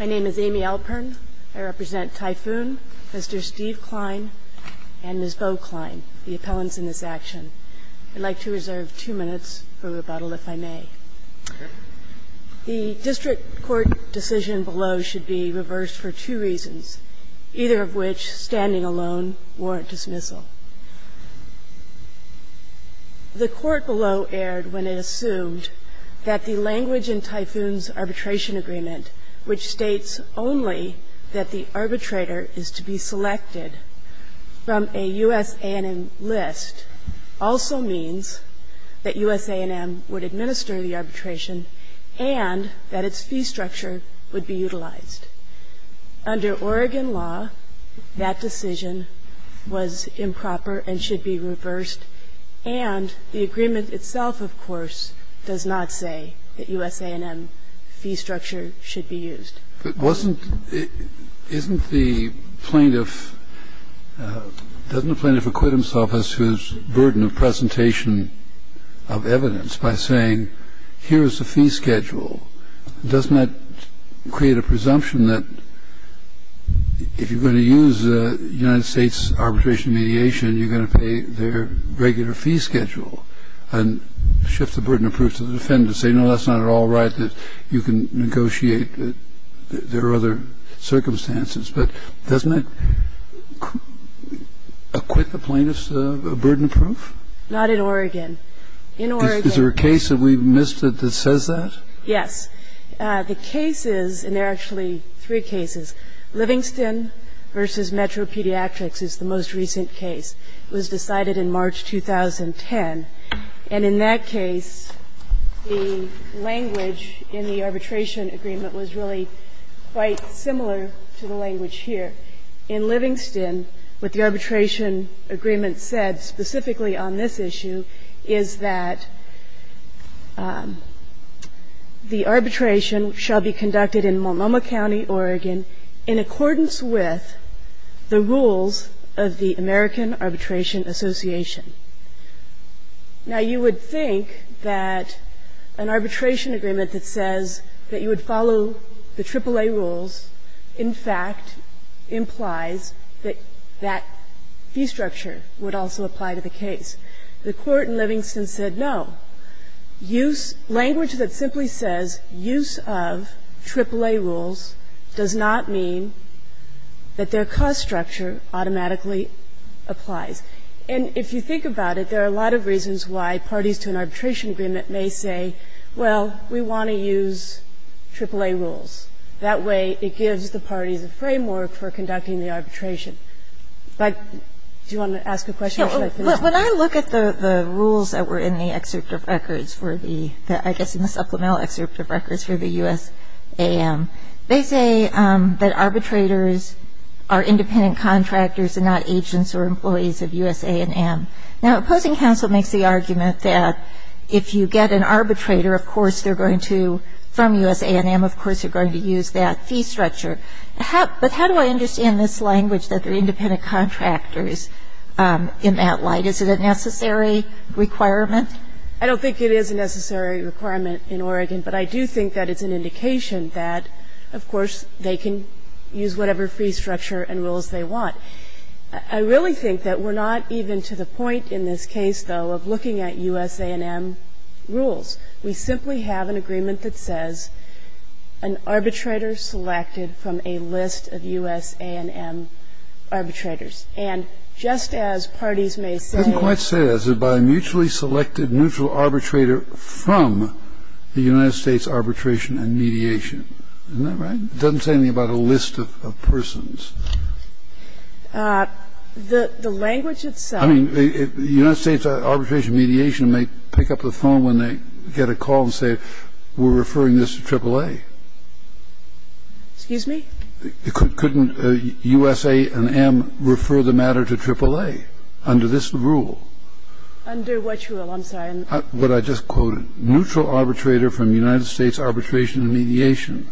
My name is Amy Alpern. I represent Typhoon, Mr. Steve Klein, and Ms. Bo Klein, the appellants in this action. I'd like to reserve two minutes for rebuttal, if I may. The district court decision below should be reversed for two reasons, either of which, standing alone, warrant dismissal. The court below erred when it assumed that the language in Typhoon's arbitration agreement, which states only that the arbitrator is to be selected from a U.S. A&M list, also means that U.S. A&M would administer the arbitration and that its fee structure would be utilized. Under Oregon law, that decision was improper and should be reversed. And the agreement itself, of course, does not say that U.S. A&M fee structure should be used. But wasn't the plaintiff, doesn't the plaintiff acquit himself of his burden of presentation of evidence by saying, here's the fee schedule? Doesn't that create a presumption that if you're going to use the United States arbitration mediation, you're going to pay their regular fee schedule and shift the burden of proof to the defendant and say, no, that's not at all right, that you can negotiate, there are other circumstances. But doesn't that acquit the plaintiff of burden of proof? Not in Oregon. In Oregon. Is there a case that we've missed that says that? Yes. The case is, and there are actually three cases, Livingston v. Metro Pediatrics is the most recent case. It was decided in March 2010. And in that case, the language in the arbitration agreement was really quite similar to the language here. What the arbitration agreement said in Livingston, what the arbitration agreement said specifically on this issue, is that the arbitration shall be conducted in Multnomah County, Oregon in accordance with the rules of the American Arbitration Association. Now, you would think that an arbitration agreement that says that you would follow the AAA rules, in fact, implies that that fee structure would also apply to the case. The Court in Livingston said no. Use of language that simply says use of AAA rules does not mean that their cost structure automatically applies. And if you think about it, there are a lot of reasons why parties to an arbitration agreement may say, well, we want to use AAA rules. That way, it gives the parties a framework for conducting the arbitration. But do you want to ask a question or should I finish? When I look at the rules that were in the excerpt of records for the, I guess, in the supplemental excerpt of records for the USAM, they say that arbitrators are independent contractors and not agents or employees of USA and AM. Now, opposing counsel makes the argument that if you get an arbitrator, of course, they're going to, from USA and AM, of course, they're going to use that fee structure. But how do I understand this language that they're independent contractors in that light? Is it a necessary requirement? I don't think it is a necessary requirement in Oregon, but I do think that it's an indication that, of course, they can use whatever fee structure and rules they want. I really think that we're not even to the point in this case, though, of looking at USA and AM rules. We simply have an agreement that says an arbitrator selected from a list of USA and AM arbitrators. And just as parties may say I didn't quite say that. It's about a mutually selected neutral arbitrator from the United States arbitration and mediation. Isn't that right? It doesn't say anything about a list of persons. The language itself I mean, the United States arbitration mediation may pick up the phone when they get a call and say we're referring this to AAA. Excuse me? Couldn't USA and AM refer the matter to AAA under this rule? Under which rule? I'm sorry. But I just quoted neutral arbitrator from United States arbitration and mediation.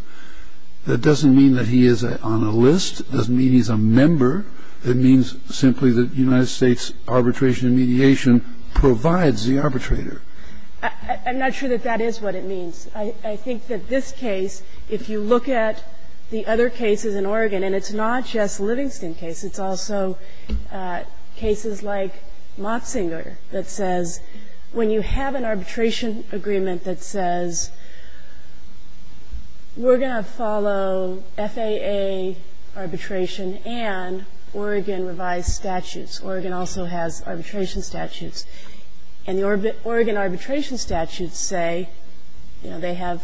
That doesn't mean that he is on a list. It doesn't mean he's a member. It means simply that United States arbitration and mediation provides the arbitrator. I'm not sure that that is what it means. I think that this case, if you look at the other cases in Oregon, and it's not just Livingston case. It's also cases like Motzinger that says when you have an arbitration agreement that says we're going to follow FAA arbitration and Oregon revised statutes. Oregon also has arbitration statutes. And the Oregon arbitration statutes say, you know, they have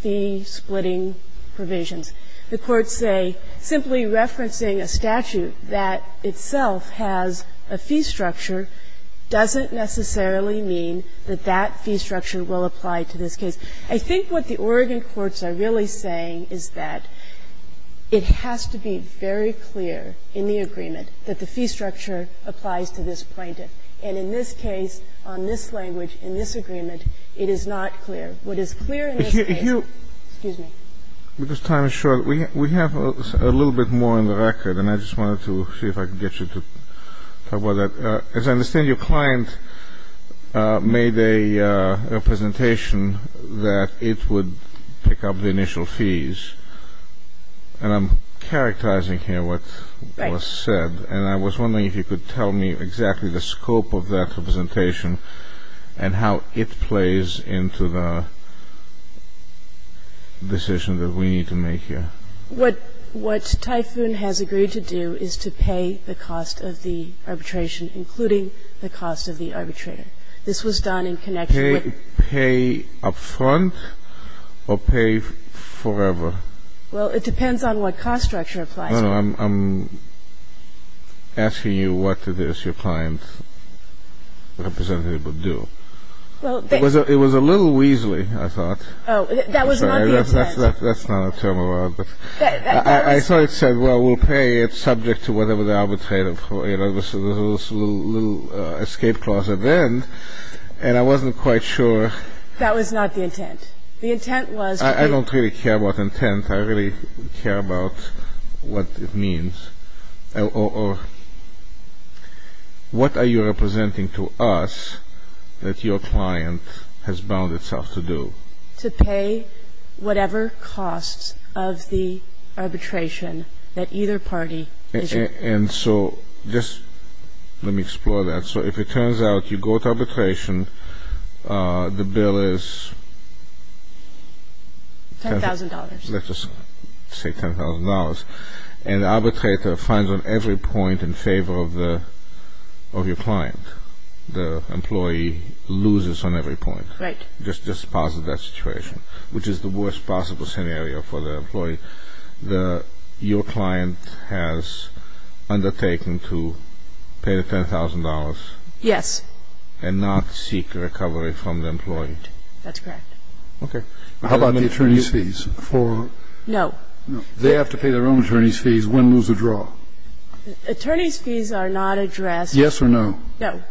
fee-splitting provisions. The courts say simply referencing a statute that itself has a fee structure doesn't necessarily mean that that fee structure will apply to this case. I think what the Oregon courts are really saying is that it has to be very clear in the agreement that the fee structure applies to this plaintiff. And in this case, on this language, in this agreement, it is not clear. What is clear in this case — Excuse me. Because time is short. We have a little bit more on the record, and I just wanted to see if I could get you to talk about that. As I understand, your client made a representation that it would pick up the initial fees, and I'm characterizing here what was said. Right. And I was wondering if you could tell me exactly the scope of that representation and how it plays into the decision that we need to make here. What Typhoon has agreed to do is to pay the cost of the arbitration, including the cost of the arbitrator. This was done in connection with — Pay up front or pay forever? Well, it depends on what cost structure applies to it. No, no. I'm asking you what to this your client's representative would do. Well, they — It was a little weasley, I thought. Oh, that was not the intent. That's not a turmoil. I thought it said, well, we'll pay it subject to whatever the arbitrator — it was a little escape clause at the end, and I wasn't quite sure — That was not the intent. The intent was — I don't really care about intent. I really care about what it means. Or what are you representing to us that your client has bound itself to do? To pay whatever costs of the arbitration that either party is — And so just let me explore that. So if it turns out you go to arbitration, the bill is — $10,000. Let's just say $10,000. And the arbitrator finds on every point in favor of your client. The employee loses on every point. Right. Just posit that situation, which is the worst possible scenario for the employee. Your client has undertaken to pay the $10,000. Yes. And not seek recovery from the employee. That's correct. Okay. How about the attorney's fees for — No. They have to pay their own attorney's fees. Win, lose, or draw. Attorney's fees are not addressed — Yes or no? No.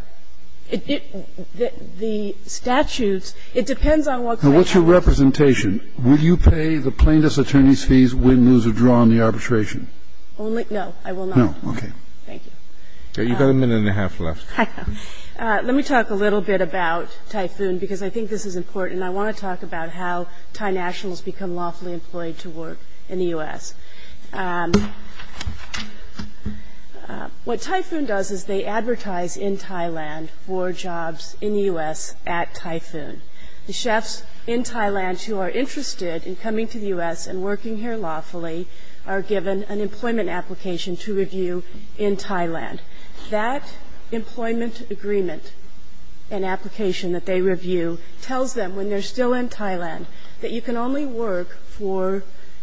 The statutes, it depends on what — Now, what's your representation? Would you pay the plaintiff's attorney's fees, win, lose, or draw on the arbitration? Only — no, I will not. No. Okay. Thank you. You've got a minute and a half left. Let me talk a little bit about Typhoon because I think this is important. I want to talk about how Thai nationals become lawfully employed to work in the U.S. What Typhoon does is they advertise in Thailand for jobs in the U.S. at Typhoon. The chefs in Thailand who are interested in coming to the U.S. and working here lawfully are given an employment application to review in Thailand. That employment agreement and application that they review tells them when they're still in Thailand that you can only work for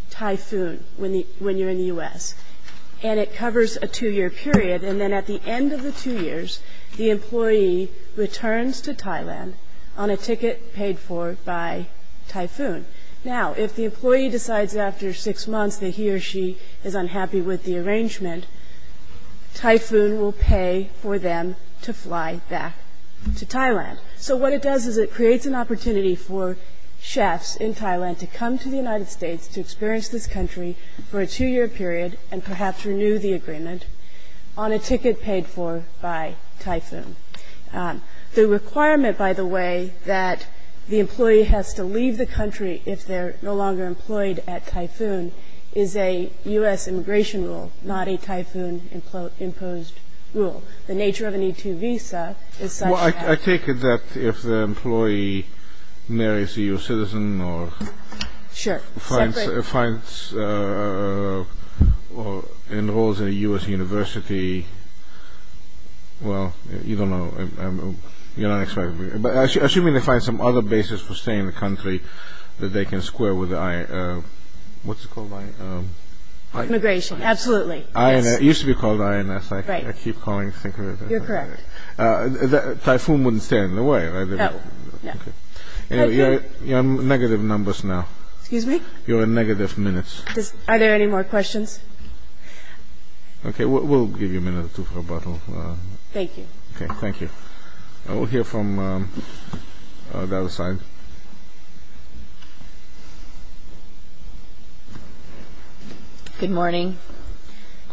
Typhoon when you're in the U.S. And it covers a two-year period. And then at the end of the two years, the employee returns to Thailand on a ticket paid for by Typhoon. Now, if the employee decides after six months that he or she is unhappy with the arrangement, Typhoon will pay for them to fly back to Thailand. So what it does is it creates an opportunity for chefs in Thailand to come to the United States to experience this country for a two-year period and perhaps renew the agreement on a ticket paid for by Typhoon. The requirement, by the way, that the employee has to leave the country if they're no longer employed at Typhoon is a U.S. immigration rule, not a Typhoon-imposed rule. So the nature of an E-2 visa is such that... Well, I take it that if the employee marries a U.S. citizen or... Sure. ...finds or enrolls in a U.S. university, well, you don't know, you're not expected to be... But assuming they find some other basis for staying in the country that they can square with the... What's it called? Immigration. Absolutely. Yes. It used to be called INS. Right. I keep calling it... You're correct. Typhoon wouldn't stay in the way, right? No, no. Okay. Anyway, you're in negative numbers now. Excuse me? You're in negative minutes. Are there any more questions? Okay, we'll give you a minute or two for rebuttal. Thank you. Okay, thank you. We'll hear from the other side. Good morning.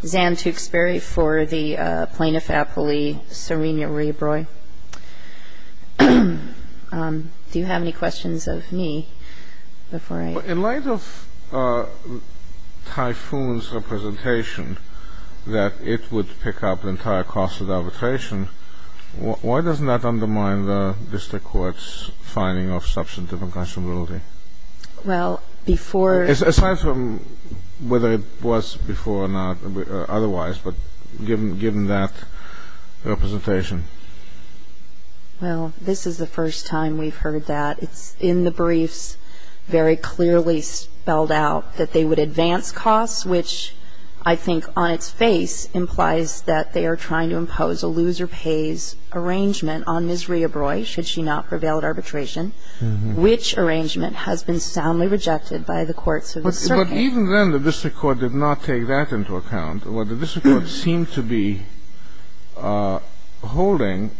Zan Tewksbury for the plaintiff appellee, Serena Raybroy. Do you have any questions of me before I... In light of Typhoon's representation that it would pick up the entire cost of the arbitration, why doesn't that undermine the district court's finding of substantive accountability? Well, before... Aside from whether it was before or not, otherwise, but given that representation. Well, this is the first time we've heard that. It's in the briefs very clearly spelled out that they would advance costs, which I think on its face implies that they are trying to impose a loser-pays arrangement on Ms. Raybroy, should she not prevail at arbitration, which arrangement has been soundly rejected by the courts of the circuit. But even then, the district court did not take that into account. What the district court seemed to be holding,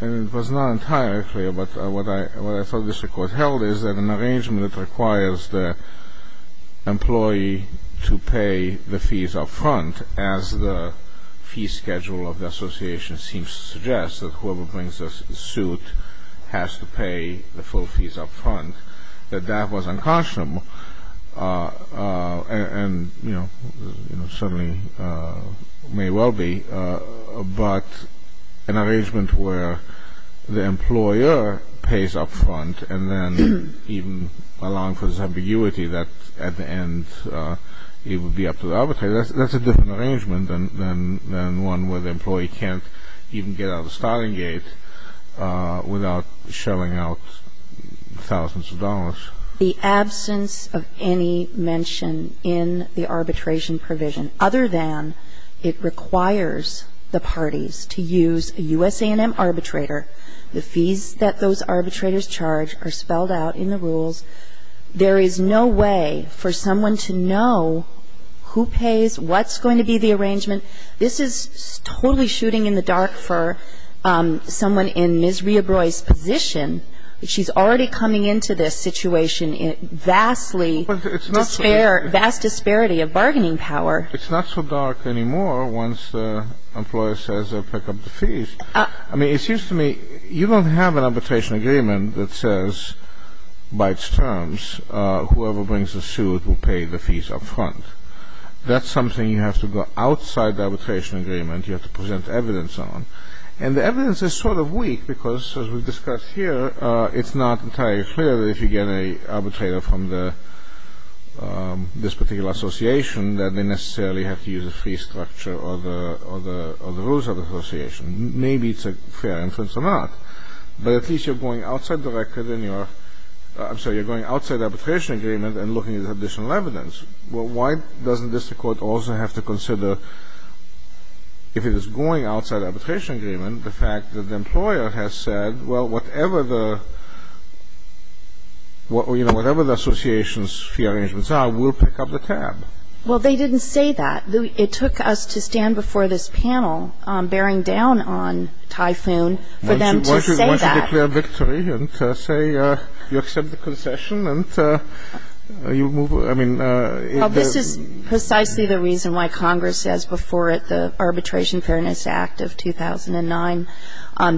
and it was not entirely clear, but what I thought the district court held is that an arrangement that requires the employee to pay the fees up front, as the fee schedule of the association seems to suggest, that whoever brings a suit has to pay the full fees up front, that that was unconscionable and certainly may well be, but an arrangement where the employer pays up front and then even allowing for this ambiguity that at the end it would be up to the arbitrator, that's a different arrangement than one where the employee can't even get out of the starting gate the absence of any mention in the arbitration provision, other than it requires the parties to use a U.S. A&M arbitrator. The fees that those arbitrators charge are spelled out in the rules. There is no way for someone to know who pays, what's going to be the arrangement. This is totally shooting in the dark for someone in Ms. Raybroy's position. She's already coming into this situation in vastly, vast disparity of bargaining power. It's not so dark anymore once the employer says they'll pick up the fees. I mean, it seems to me you don't have an arbitration agreement that says, by its terms, whoever brings a suit will pay the fees up front. That's something you have to go outside the arbitration agreement, you have to present evidence on, and the evidence is sort of weak because, as we've discussed here, it's not entirely clear that if you get an arbitrator from this particular association that they necessarily have to use a fee structure or the rules of the association. Maybe it's a fair inference or not, but at least you're going outside the record in your I'm sorry, you're going outside the arbitration agreement and looking at additional evidence. Well, why doesn't this Court also have to consider, if it is going outside arbitration agreement, the fact that the employer has said, well, whatever the, you know, whatever the association's fee arrangements are, we'll pick up the tab? Well, they didn't say that. It took us to stand before this panel bearing down on Typhoon for them to say that. Why don't you declare victory and say you accept the concession and you move Well, this is precisely the reason why Congress says before it the Arbitration Fairness Act of 2009,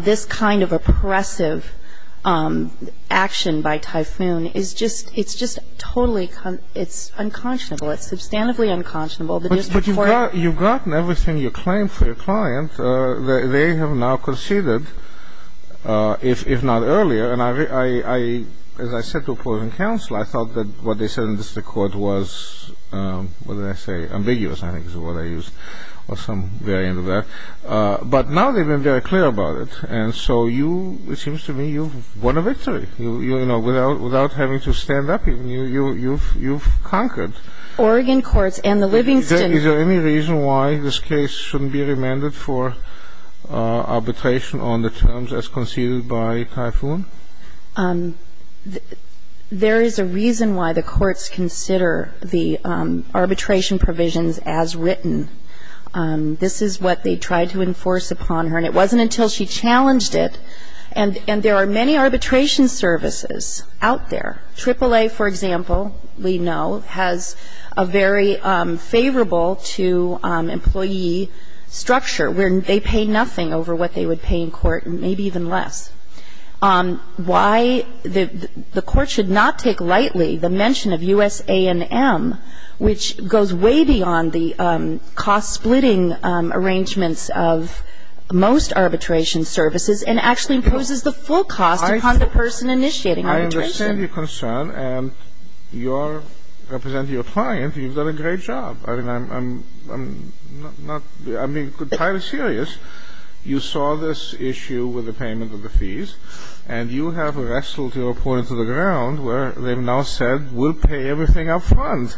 this kind of oppressive action by Typhoon is just, it's just totally, it's unconscionable. It's substantively unconscionable. But you've gotten everything you claim for your client. They have now conceded, if not earlier, and I, as I said to opposing counsel, I thought that what they said in the court was, what did I say? Ambiguous, I think is what I used, or some variant of that. But now they've been very clear about it. And so you, it seems to me, you've won a victory, you know, without having to stand up. You've conquered. Oregon courts and the Livingston Is there any reason why this case shouldn't be remanded for arbitration on the terms as conceded by Typhoon? There is a reason why the courts consider the arbitration provisions as written. This is what they tried to enforce upon her. And it wasn't until she challenged it, and there are many arbitration services out there. AAA, for example, we know, has a very favorable-to-employee structure where they pay nothing over what they would pay in court, maybe even less. Why the court should not take lightly the mention of USA&M, which goes way beyond the cost-splitting arrangements of most arbitration services and actually imposes the full cost upon the person initiating arbitration. I understand your concern, and you're representing your client. You've done a great job. I mean, I'm not, I'm being entirely serious. You saw this issue with the payment of the fees, and you have wrestled your opponent to the ground where they've now said, we'll pay everything up front.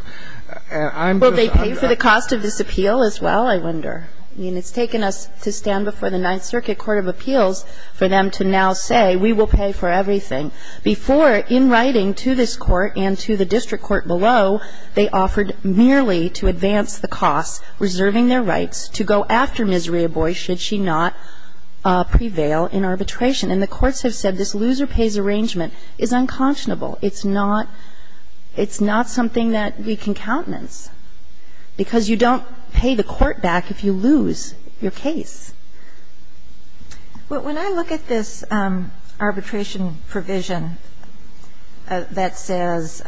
And I'm just Well, they pay for the cost of this appeal as well, I wonder. I mean, it's taken us to stand before the Ninth Circuit Court of Appeals for them to now say, we will pay for everything. Before, in writing to this court and to the district court below, they offered merely to advance the cost, reserving their rights, to go after Ms. Rehboy should she not prevail in arbitration. And the courts have said this loser-pays arrangement is unconscionable. It's not, it's not something that we can countenance, because you don't pay the court back if you lose your case. Well, when I look at this arbitration provision that says,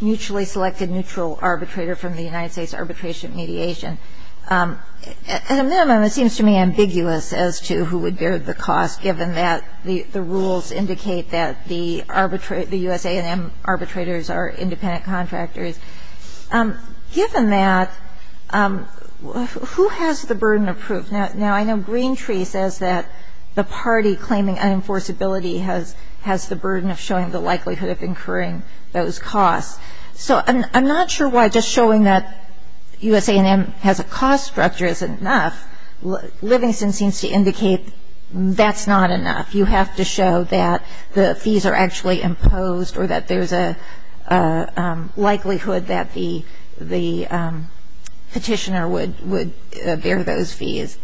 mutually selected neutral arbitrator from the United States arbitration mediation, at a minimum, it seems to me ambiguous as to who would bear the cost, given that the rules indicate that the U.S. A&M arbitrators are independent contractors. Given that, who has the burden of proof? Now, I know Green Tree says that the party claiming unenforceability has the burden of showing the likelihood of incurring those costs. So I'm not sure why just showing that U.S. A&M has a cost structure isn't enough. Livingston seems to indicate that's not enough. You have to show that the fees are actually imposed, or that there's a likelihood that the petitioner would bear those fees.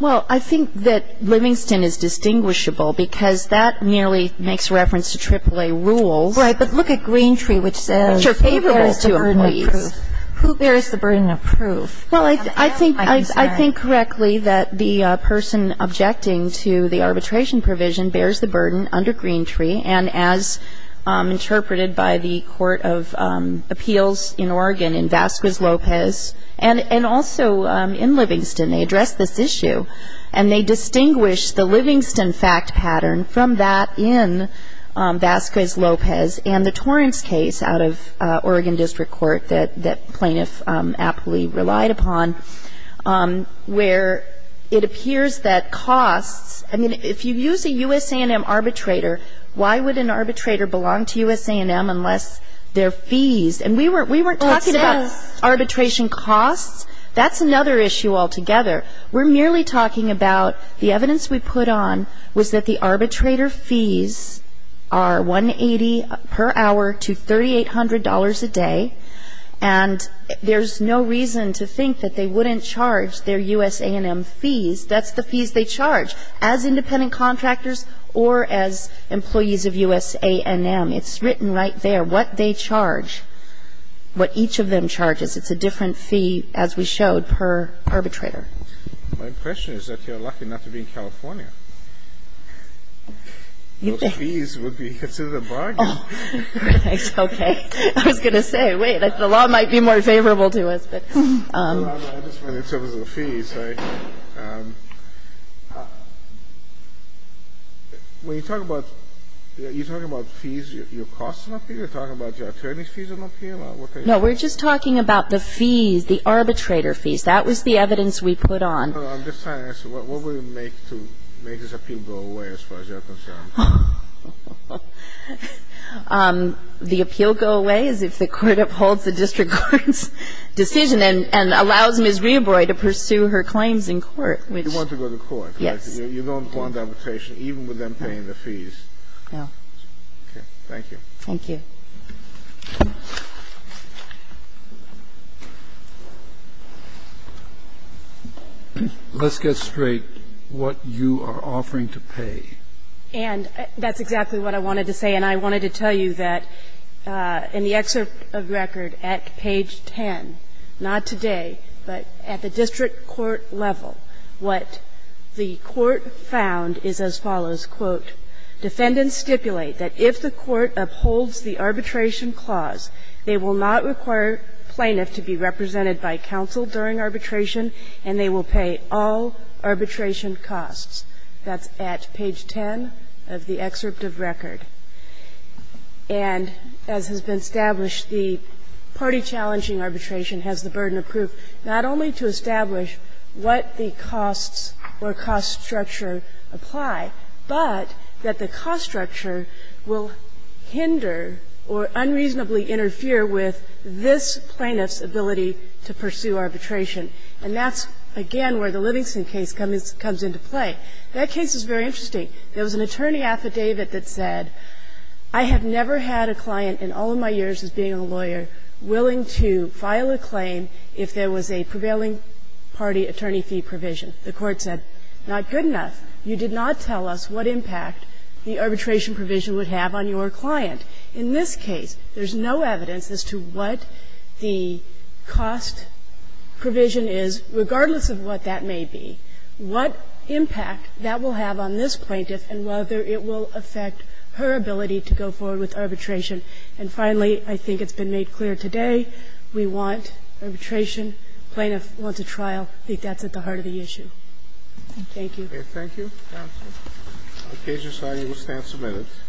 Well, I think that Livingston is distinguishable, because that merely makes reference to AAA rules. Right, but look at Green Tree, which says, who bears the burden of proof? Which are favorable to employees. Who bears the burden of proof? Well, I think, I think correctly that the person objecting to the arbitration provision bears the burden under Green Tree. And as interpreted by the Court of Appeals in Oregon, in Vasquez-Lopez, and also in Livingston, they address this issue. And they distinguish the Livingston fact pattern from that in Vasquez-Lopez and the Torrance case out of Oregon District Court that plaintiff aptly relied upon, where it appears that costs, I mean, if you use a U.S. A&M arbitrator, why would an arbitrator belong to U.S. A&M unless their fees? And we weren't talking about arbitration costs. That's another issue altogether. We're merely talking about the evidence we put on was that the arbitrator fees are $180 per hour to $3,800 a day. And there's no reason to think that they wouldn't charge their U.S. A&M fees. That's the fees they charge as independent contractors or as employees of U.S. A&M. It's written right there what they charge, what each of them charges. It's a different fee, as we showed, per arbitrator. My impression is that you're lucky not to be in California. Those fees would be considered a bargain. Oh, okay. I was going to say, wait, the law might be more favorable to us. I just meant in terms of the fees, right? When you talk about fees, your costs are not paid? You're talking about your attorney's fees are not paid? No, we're just talking about the fees, the arbitrator fees. That was the evidence we put on. I'm just trying to ask, what would it make to make this appeal go away, as far as you're concerned? The appeal go away is if the court upholds the district court's decision and allows Ms. Rehobroy to pursue her claims in court. You want to go to court. Yes. You don't want arbitration, even with them paying the fees. No. Okay. Thank you. Thank you. Let's get straight what you are offering to pay. And that's exactly what I wanted to say. And I wanted to tell you that in the excerpt of the record at page 10, not today, but at the district court level, what the court found is as follows, quote, Defendants stipulate that if the court upholds the arbitration clause, they will not require plaintiff to be represented by counsel during arbitration, and they will pay all arbitration costs. That's at page 10 of the excerpt of record. And as has been established, the party challenging arbitration has the burden of proof not only to establish what the costs or cost structure apply, but that the cost structure will hinder or unreasonably interfere with this plaintiff's ability to pursue arbitration. And that's, again, where the Livingston case comes into play. That case is very interesting. There was an attorney affidavit that said, I have never had a client in all of my years as being a lawyer willing to file a claim if there was a prevailing party attorney fee provision. The court said, not good enough. You did not tell us what impact the arbitration provision would have on your client. In this case, there's no evidence as to what the cost provision is, regardless of what that may be, what impact that will have on this plaintiff and whether it will affect her ability to go forward with arbitration. And finally, I think it's been made clear today, we want arbitration. Plaintiffs want to trial. I think that's at the heart of the issue. Thank you. Roberts.